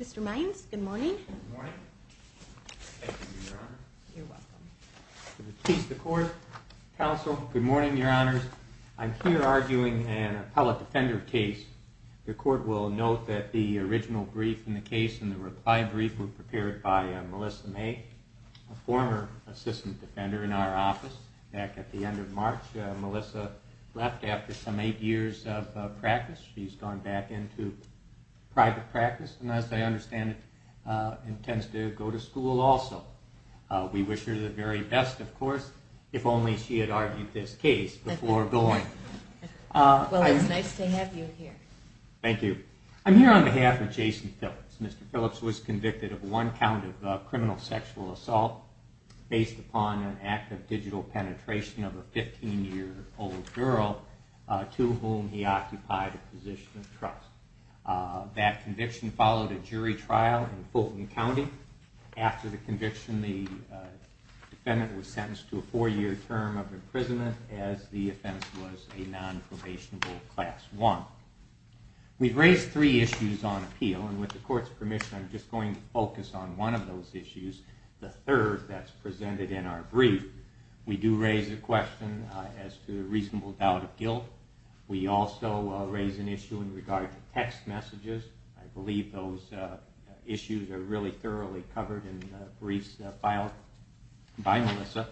Mr. Mines. Good morning. Good morning, Your Honor. I'm here arguing an appellate defender case. The court will note that the original brief in the case and the reply brief were prepared by Melissa May, a former assistant defender, and I'm here arguing an appellate defender case. Back at the end of March, Melissa left after some eight years of practice. She's gone back into private practice, and as I understand it, intends to go to school also. We wish her the very best, of course, if only she had argued this case before going. Well, it's nice to have you here. Thank you. I'm here on behalf of Jason Phillips. Mr. Phillips was convicted of one count of criminal sexual assault based upon an act of digital penetration of a 15-year-old girl to whom he occupied a position of trust. That conviction followed a jury trial in Fulton County. After the conviction, the defendant was sentenced to a four-year term of imprisonment as the offense was a nonprobationable Class I. We've raised three issues on appeal, and with the court's permission, I'm just going to focus on one of those issues, the third that's presented in our brief. We do raise a question as to a reasonable doubt of guilt. We also raise an issue in regard to text messages. I believe those issues are really thoroughly covered in the briefs filed by Melissa.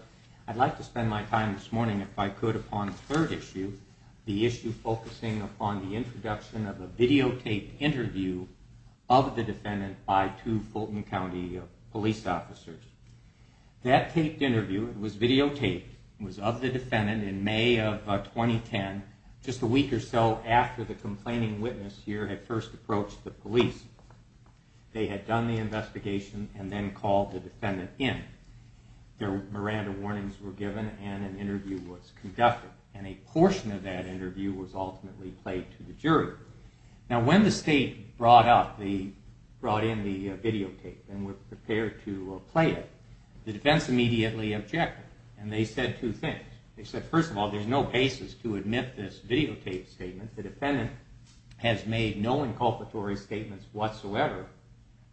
I'd like to spend my time this morning, if I could, upon the third issue, the issue focusing upon the introduction of a videotaped interview of the defendant by two Fulton County police officers. That taped interview, it was videotaped, was of the defendant in May of 2010, just a week or so after the complaining witness here had first approached the police. They had done the investigation and then called the defendant in. Their Miranda warnings were given and an interview was conducted, and a portion of that interview was ultimately played to the jury. Now, when the state brought in the videotape and were prepared to play it, the defense immediately objected, and they said two things. They said, first of all, there's no basis to admit this videotaped statement. The defendant has made no inculpatory statements whatsoever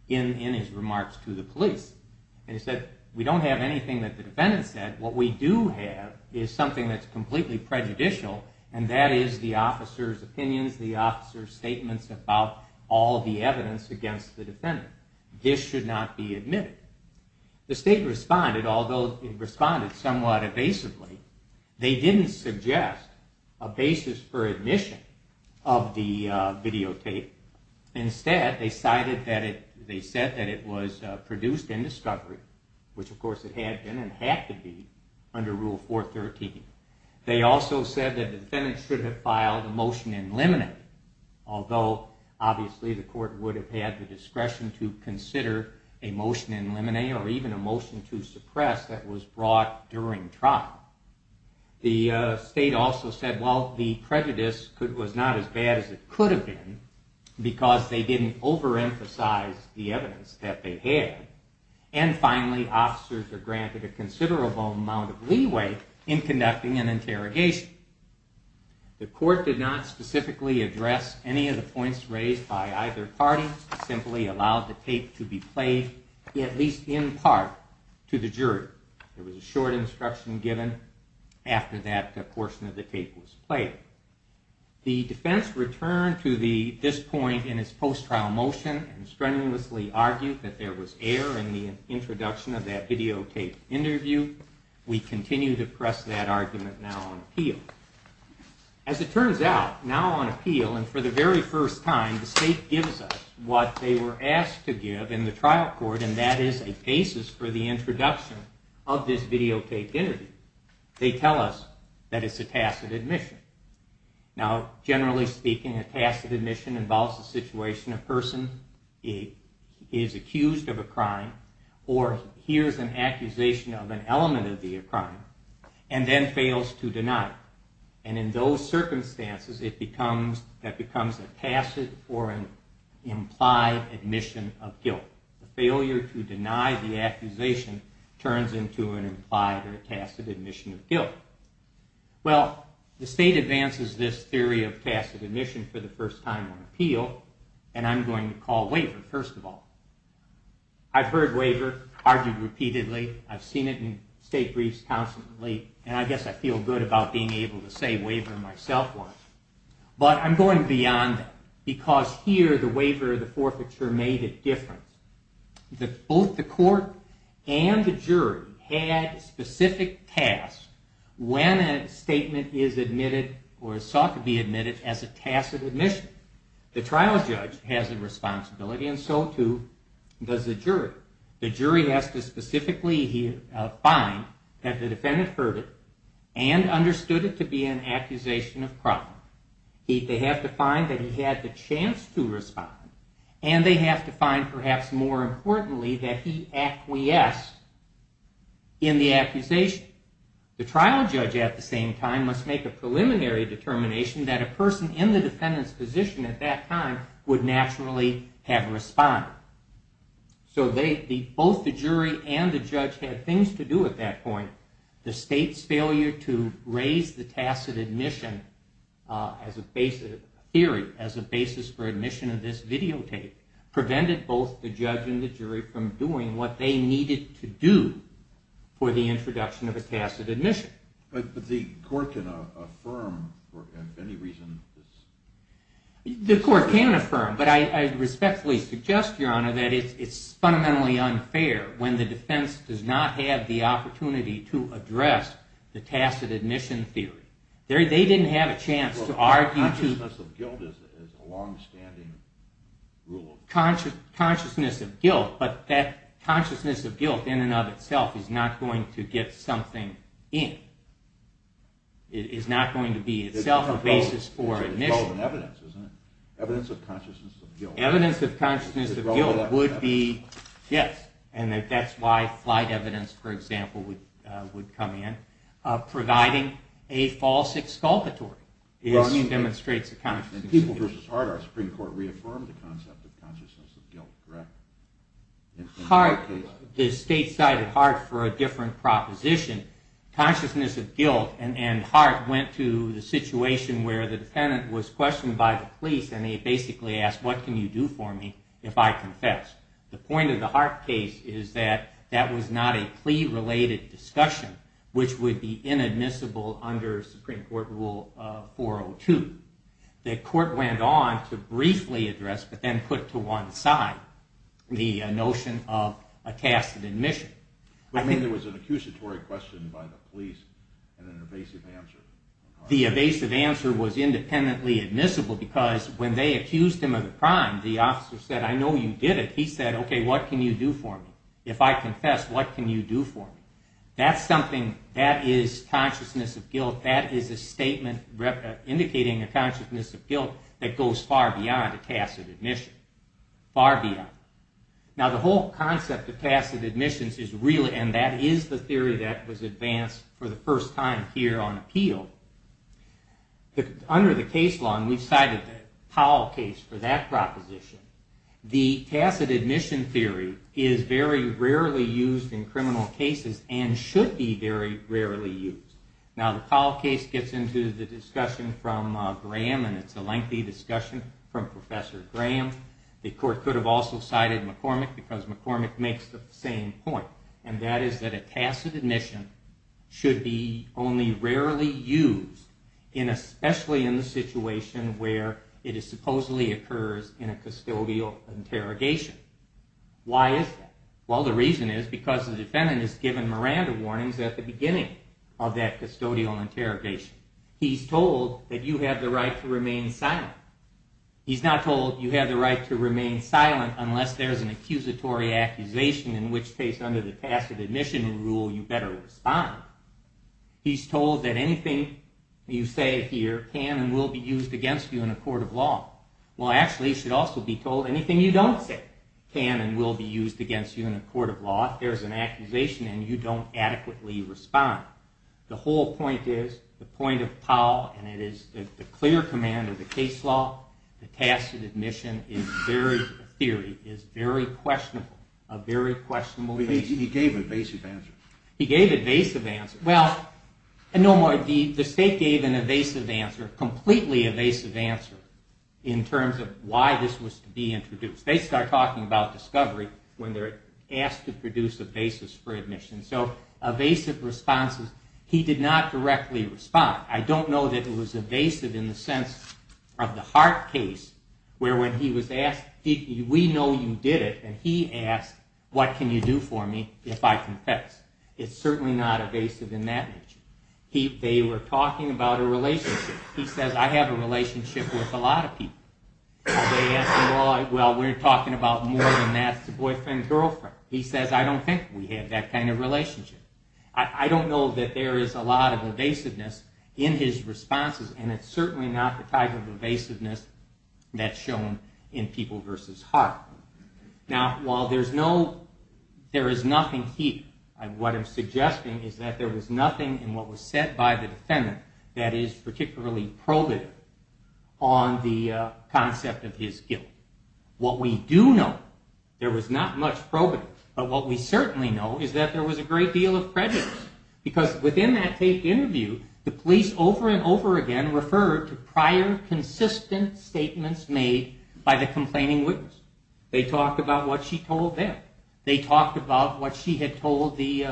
in his remarks to the police. They said, we don't have anything that the defendant said. What we do have is something that's completely prejudicial, and that is the officer's opinions, the officer's statements about all the evidence against the defendant. This should not be admitted. The state responded, although it responded somewhat evasively. They didn't suggest a basis for admission of the videotape. Instead, they said that it was produced in discovery, which of course it had been and had to be under Rule 413. They also said that the defendant should have filed a motion in limine, although obviously the court would have had the discretion to consider a motion in limine or even a motion to suppress that was brought during trial. The state also said, well, the prejudice was not as bad as it could have been because they didn't overemphasize the evidence that they had. And finally, officers are granted a considerable amount of leeway in conducting an interrogation. The court did not specifically address any of the points raised by either party. It simply allowed the tape to be played, at least in part, to the jury. There was a short instruction given after that portion of the tape was played. The defense returned to this point in its post-trial motion and strenuously argued that there was error in the introduction of that videotape interview. We continue to press that argument now on appeal. As it turns out, now on appeal, and for the very first time, the state gives us what they were asked to give in the trial court, and that is a basis for the introduction of this videotape interview. They tell us that it's a tacit admission. Now, generally speaking, a tacit admission involves a situation where a person is accused of a crime or hears an accusation of an element of the crime and then fails to deny it. And in those circumstances, that becomes a tacit or an implied admission of guilt. The failure to deny the accusation turns into an implied or a tacit admission of guilt. Well, the state advances this theory of tacit admission for the first time on appeal, and I'm going to call waiver, first of all. I've heard waiver argued repeatedly, I've seen it in state briefs constantly, and I guess I feel good about being able to say waiver myself. But I'm going beyond that, because here the waiver of the forfeiture made a difference. Both the court and the jury had specific tasks when a statement is admitted or is thought to be admitted as a tacit admission. The trial judge has a responsibility, and so too does the jury. The jury has to specifically find that the defendant heard it and understood it to be an accusation of crime. They have to find that he had the chance to respond, and they have to find, perhaps more importantly, that he acquiesced in the accusation. The trial judge at the same time must make a preliminary determination that a person in the defendant's position at that time would naturally have responded. So both the jury and the judge had things to do at that point. The state's failure to raise the tacit admission as a theory, as a basis for admission of this videotape, prevented both the judge and the jury from doing what they needed to do for the introduction of a tacit admission. But the court can affirm, for any reason... The court can affirm, but I respectfully suggest, Your Honor, that it's fundamentally unfair when the defense does not have the opportunity to address the tacit admission theory. They didn't have a chance to argue... Consciousness of guilt is a long-standing rule. Consciousness of guilt, but that consciousness of guilt in and of itself is not going to get something in. It's not going to be itself a basis for admission. Evidence of consciousness of guilt. Yes, and that's why flight evidence, for example, would come in. Providing a false exculpatory demonstrates a consciousness of guilt. The state cited Hart for a different proposition. Consciousness of guilt. And Hart went to the situation where the defendant was questioned by the police and he basically asked, what can you do for me if I confess? The point of the Hart case is that that was not a plea-related discussion, which would be inadmissible under Supreme Court Rule 402. The court went on to briefly address, but then put to one side, the notion of a tacit admission. But then there was an accusatory question by the police and an evasive answer. The evasive answer was independently admissible because when they accused him of a crime, the officer said, I know you did it. He said, okay, what can you do for me? If I confess, what can you do for me? That is consciousness of guilt. That is a statement indicating a consciousness of guilt that goes far beyond a tacit admission. Far beyond. Now the whole concept of tacit admissions is really, and that is the theory that was advanced for the first time here on appeal. Under the case law, and we've cited the Powell case for that proposition, the tacit admission theory is very rarely used in criminal cases and should be very rarely used. Now the Powell case gets into the discussion from Graham, and it's a lengthy discussion from Professor Graham. The court could have also cited McCormick because McCormick makes the same point. And that is that a tacit admission should be only rarely used, especially in the situation where it supposedly occurs in a custodial interrogation. Why is that? Well, the reason is because the defendant is given Miranda warnings at the beginning of that custodial interrogation. He's told that you have the right to remain silent. He's not told you have the right to remain silent unless there's an accusatory accusation in which case under the tacit admission rule you better respond. He's told that anything you say here can and will be used against you in a court of law. Well, actually it should also be told anything you don't say can and will be used against you in a court of law if there's an accusation and you don't adequately respond. The whole point is, the point of Powell, and it is the clear command of the case law, the tacit admission theory is very questionable. He gave an evasive answer. He gave an evasive answer. Well, the state gave an evasive answer, completely evasive answer, in terms of why this was to be introduced. They start talking about discovery when they're asked to produce a basis for admission. So evasive responses, he did not directly respond. I don't know that it was evasive in the sense of the Hart case, where when he was asked, we know you did it, and he asked, what can you do for me if I confess? It's certainly not evasive in that nature. They were talking about a relationship. He says, I have a relationship with a lot of people. They asked him, well, we're talking about more than that. It's a boyfriend and girlfriend. He says, I don't think we have that kind of relationship. I don't know that there is a lot of evasiveness in his responses, and it's certainly not the type of evasiveness that's shown in People v. Hart. Now, while there is nothing here, what I'm suggesting is that there was nothing in what was said by the defendant that is particularly probative on the concept of his guilt. What we do know, there was not much probative, but what we certainly know is that there was a great deal of prejudice. Because within that taped interview, the police over and over again referred to prior consistent statements made by the complaining witness. They talked about what she told them. They talked about what she had told the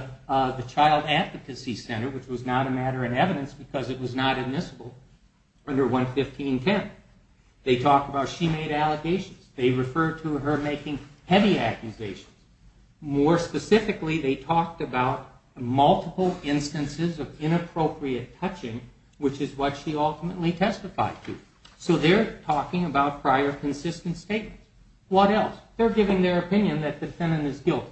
child advocacy center, which was not a matter of evidence because it was not admissible under 11510. They talked about she made allegations. They referred to her making heavy accusations. More specifically, they talked about multiple instances of inappropriate touching, which is what she ultimately testified to. So they're talking about prior consistent statements. What else? They're giving their opinion that the defendant is guilty.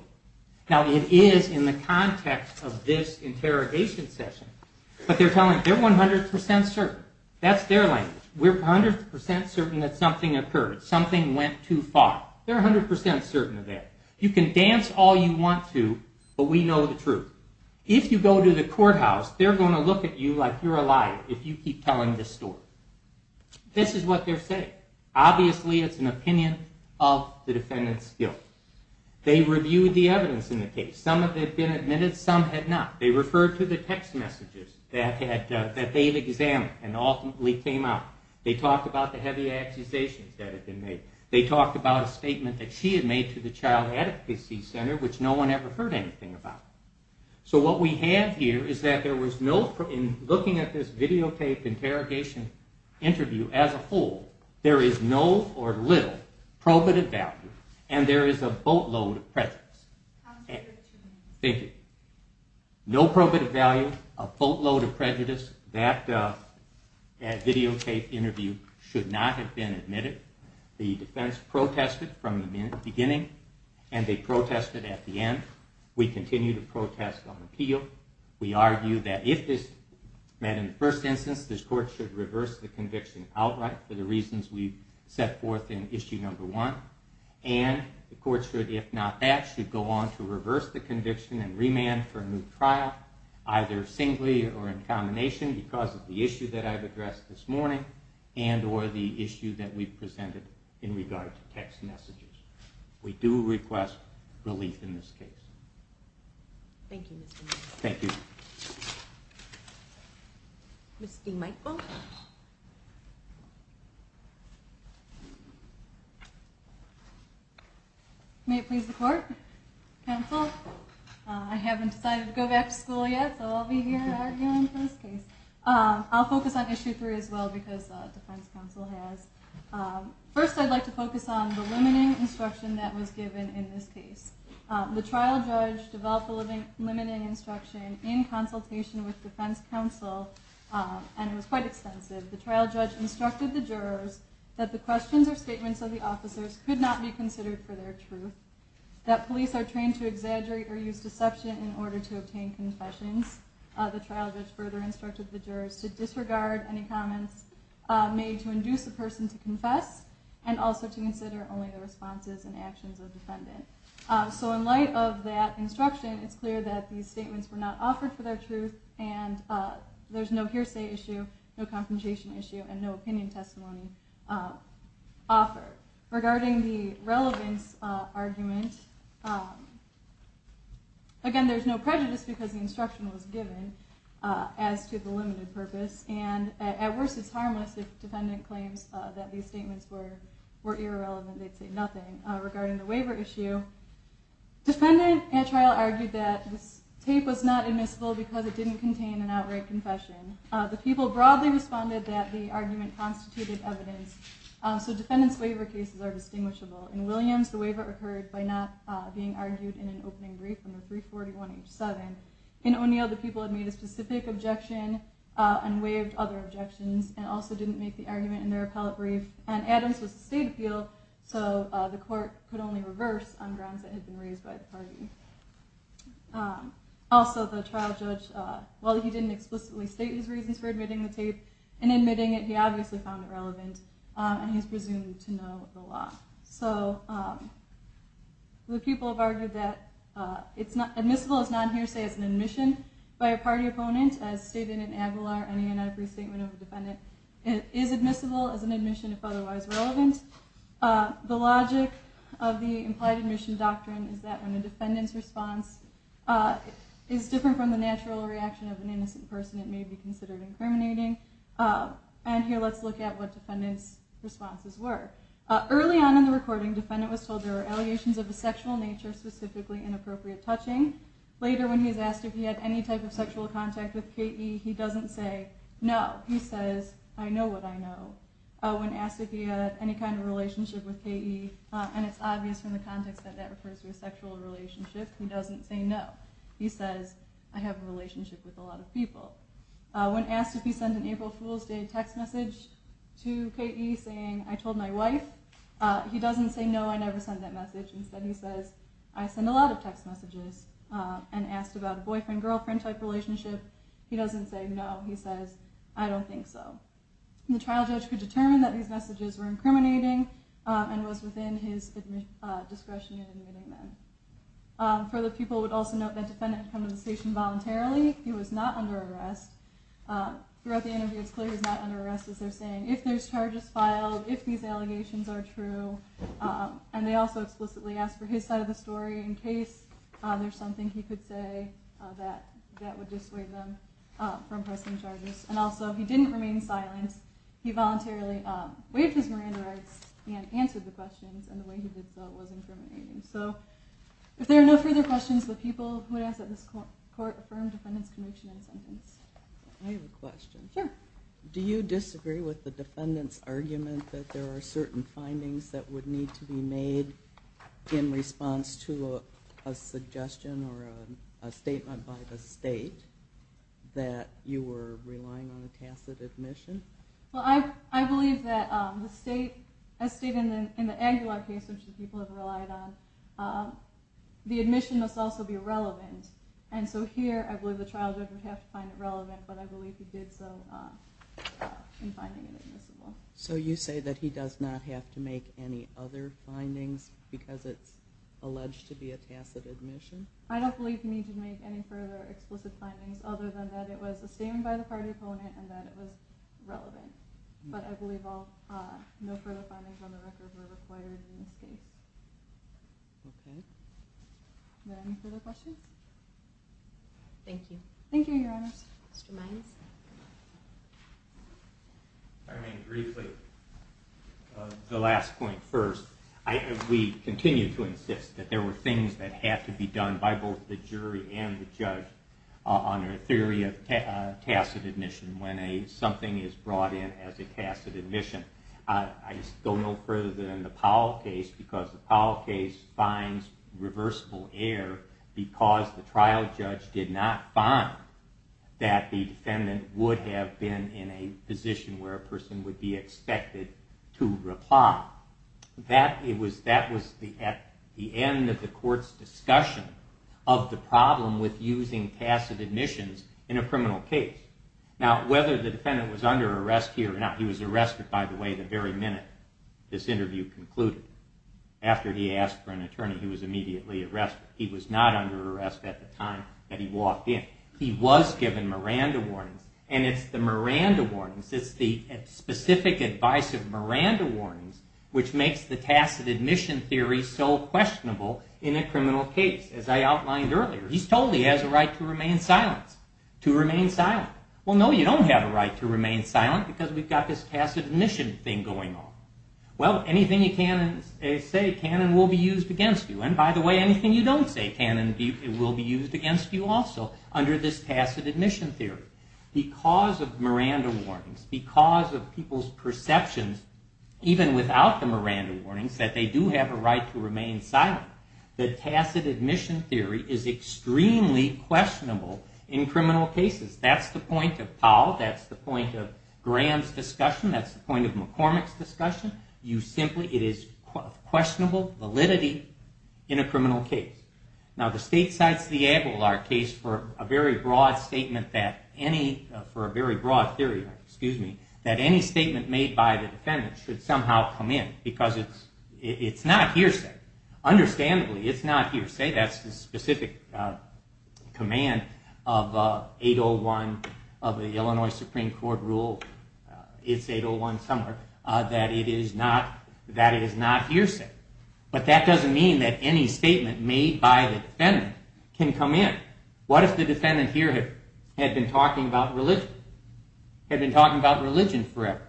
Now, it is in the context of this interrogation session, but they're telling, they're 100% certain. That's their language. We're 100% certain that something occurred. Something went too far. They're 100% certain of that. You can dance all you want to, but we know the truth. If you go to the courthouse, they're going to look at you like you're a liar if you keep telling this story. This is what they're saying. Obviously it's an opinion of the defendant's guilt. They reviewed the evidence in the case. Some of it had been admitted, some had not. They referred to the text messages that they had examined and ultimately came out. They talked about the heavy accusations that had been made. They talked about a statement that she had made to the child advocacy center, which no one ever heard anything about. So what we have here is that there was no, in looking at this videotape interrogation interview as a whole, there is no or little probative value and there is a boatload of prejudice. Thank you. No probative value, a boatload of prejudice. That videotape interview should not have been admitted. The defense protested from the beginning and they protested at the end. We continue to protest on appeal. We argue that if this met in the first instance, this court should reverse the conviction outright for the reasons we set forth in issue number one. And the court should, if not that, should go on to reverse the conviction and remand for a new trial, either singly or in combination because of the issue that I've addressed this morning and or the issue that we presented in regard to text messages. We do request relief in this case. Thank you, Mr. Michael. Thank you. Ms. D. Michael. May it please the court, counsel. I haven't decided to go back to school yet, so I'll be here arguing for this case. I'll focus on issue three as well because defense counsel has. First I'd like to focus on the limiting instruction that was given in this case. The trial judge developed a limiting instruction in consultation with defense counsel and it was quite extensive. The trial judge instructed the jurors that the questions or statements of the officers could not be considered for their truth, that police are trained to exaggerate or use deception in order to obtain confessions. The trial judge further instructed the jurors to disregard any comments made to induce a person to confess and also to consider only the responses and actions of the defendant. So in light of that instruction, it's clear that these statements were not offered for their truth and there's no hearsay issue, no confrontation issue, and no opinion testimony offered. Regarding the relevance argument, again there's no prejudice because the instruction was given as to the limited purpose and at worst it's harmless if the defendant claims that these statements were irrelevant, they'd say nothing. Regarding the waiver issue, defendant at trial argued that this tape was not admissible because it didn't contain an outright confession. The people broadly responded that the argument constituted evidence, so defendant's waiver cases are distinguishable. In Williams, the waiver occurred by not being argued in an opening brief under 341H7. In O'Neill, the people had made a specific objection and waived other objections and also didn't make the argument in their appellate brief. And Adams was a state appeal, so the court could only reverse on grounds that had been raised by the party. Also the trial judge, while he didn't explicitly state his reasons for admitting the tape, in admitting it he obviously found it relevant and he's presumed to know the law. So the people have argued that admissible is not hearsay as an admission by a party opponent, as stated in Aguilar, any and every statement of a defendant is admissible as an admission if otherwise relevant. The logic of the implied admission doctrine is that when a defendant's response is different from the natural reaction of an innocent person it may be considered incriminating. And here let's look at what defendant's responses were. Early on in the recording, defendant was told there were allegations of a sexual nature, specifically inappropriate touching. Later when he's asked if he had any type of sexual contact with K.E. he doesn't say no. He says, I know what I know. When asked if he had any kind of relationship with K.E. and it's obvious from the context that that refers to a sexual relationship he doesn't say no. He says, I have a relationship with a lot of people. When asked if he sent an April Fool's Day text message to K.E. he's saying, I told my wife. He doesn't say no, I never sent that message. Instead he says, I send a lot of text messages. And asked about a boyfriend-girlfriend type relationship. He doesn't say no. He says, I don't think so. The trial judge could determine that these messages were incriminating and was within his discretion in admitting them. Further, people would also note that defendant had come to the station voluntarily. He was not under arrest. Throughout the interview it's clear he was not under arrest as they're saying. If there's charges filed, if these allegations are true. And they also explicitly ask for his side of the story in case there's something he could say that would dissuade them from pressing charges. And also, he didn't remain silent. He voluntarily waived his Miranda rights and answered the questions. And the way he did so was incriminating. So, if there are no further questions, the people who would ask that this court affirm defendant's conviction and sentence. I have a question. Sure. Do you disagree with the defendant's argument that there are certain findings that would need to be made in response to a suggestion or a statement by the state that you were relying on a tacit admission? Well, I believe that the state, a state in the angular case, which the people have relied on, the admission must also be relevant. And so here, I believe the trial judge would have to find it relevant, but I believe he did so in finding it admissible. So you say that he does not have to make any other findings because it's alleged to be a tacit admission? I don't believe he needed to make any further explicit findings other than that it was a statement by the party opponent and that it was relevant. But I believe no further findings on the record were required in this case. Okay. Are there any further questions? Thank you. Thank you, Your Honor. Mr. Mines? If I may briefly, the last point first. We continue to insist that there were things that had to be done by both the jury and the judge on a theory of tacit admission when something is brought in as a tacit admission. I don't know further than the Powell case because the Powell case finds reversible error because the trial judge did not find that the defendant would have been in a position where a person would be expected to reply. That was at the end of the court's discussion of the problem with using tacit admissions in a criminal case. Now, whether the defendant was under arrest here or not, he was arrested, by the way, the very minute this interview concluded. After he asked for an attorney, he was immediately arrested. He was not under arrest at the time that he walked in. He was given Miranda warnings, and it's the Miranda warnings, it's the specific advice of Miranda warnings which makes the tacit admission theory so questionable in a criminal case, as I outlined earlier. He's told he has a right to remain silent. To remain silent. Well, no, you don't have a right to remain silent because we've got this tacit admission thing going on. Well, anything you can say can and will be used against you. And by the way, anything you don't say can and will be used against you also under this tacit admission theory. Because of Miranda warnings, because of people's perceptions, even without the Miranda warnings, that they do have a right to remain silent, the tacit admission theory is extremely questionable in criminal cases. That's the point of Powell. That's the point of Graham's discussion. That's the point of McCormick's discussion. It is questionable validity in a criminal case. Now, the states cites the Aguilar case for a very broad statement that any, for a very broad theory, excuse me, that any statement made by the defendant should somehow come in because it's not hearsay. Understandably, it's not hearsay. That's the specific command of 801, of the Illinois Supreme Court rule, it's 801 somewhere, that it is not hearsay. But that doesn't mean that any statement made by the defendant can come in. What if the defendant here had been talking about religion, had been talking about religion forever?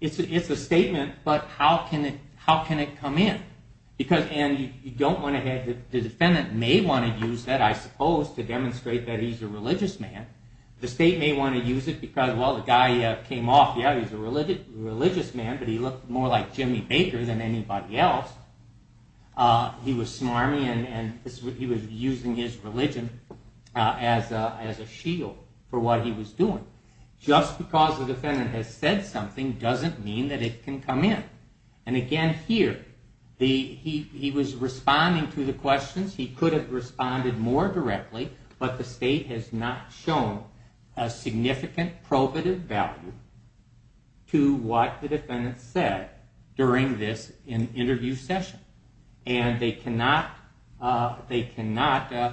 It's a statement, but how can it come in? Because, and you don't want to have, the defendant may want to use that, I suppose, to demonstrate that he's a religious man. The state may want to use it because, well, the guy came off, he was a religious man, but he looked more like Jimmy Baker than anybody else. He was smarmy, and he was using his religion as a shield for what he was doing. Just because the defendant has said something doesn't mean that it can come in. And again, here, he was responding to the questions, he could have responded more directly, but the state has not shown a significant probative value to what the defendant said during this interview session. And they cannot, they cannot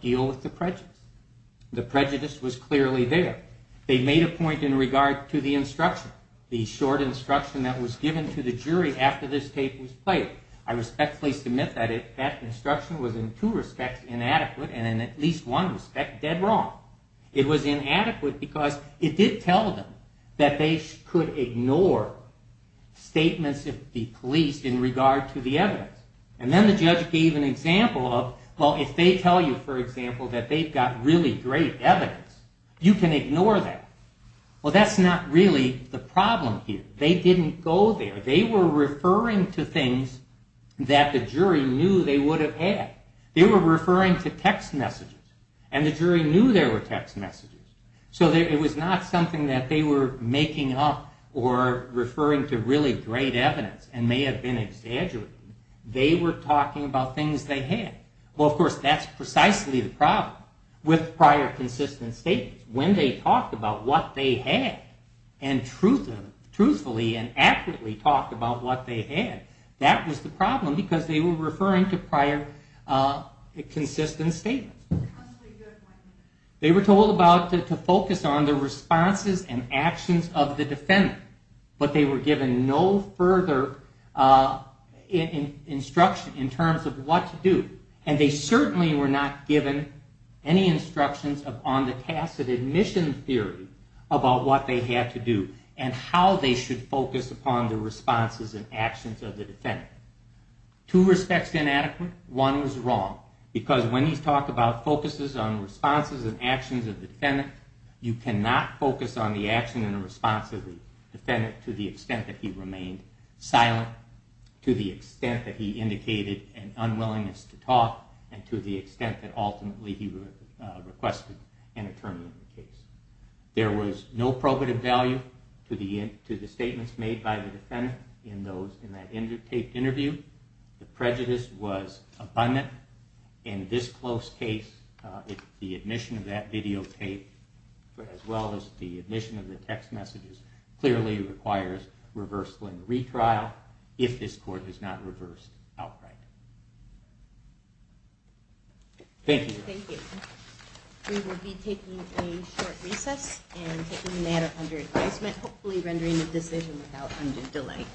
deal with the prejudice. The prejudice was clearly there. They made a point in regard to the instruction, the short instruction that was given to the jury after this tape was played. I respectfully submit that that instruction was in two respects inadequate, and in at least one respect dead wrong. It was inadequate because there were statements of the police in regard to the evidence. And then the judge gave an example of, well, if they tell you, for example, that they've got really great evidence, you can ignore that. Well, that's not really the problem here. They didn't go there. They were referring to things that the jury knew they would have had. They were referring to text messages, and the jury knew there were text messages. So it was not something that they were making up or referring to really great evidence and may have been exaggerating. They were talking about things they had. Well, of course, that's precisely the problem with prior consistent statements. When they talked about what they had and truthfully and accurately talked about what they had, that was the problem because they were referring to prior consistent statements. They were told about, to focus on the responses and actions of the defendants. But they were given no further instruction in terms of what to do. And they certainly were not given any instructions on the tacit admission theory about what they had to do and how they should focus upon the responses and actions of the defendant. Two respects inadequate. One was wrong because when you talk about focuses on responses and actions of the defendant, you cannot focus on the action of the defendant to the extent that he remained silent, to the extent that he indicated an unwillingness to talk, and to the extent that ultimately he requested an attorney in the case. There was no probative value to the statements made by the defendant in that taped interview. The prejudice was abundant. In this close case, the admission of that videotape as well as the admission of the text messages ultimately requires reversal and retrial if this court is not reversed outright. Thank you. Thank you. We will be taking a short recess and taking the matter under advisement, hopefully rendering the decision without undue delay.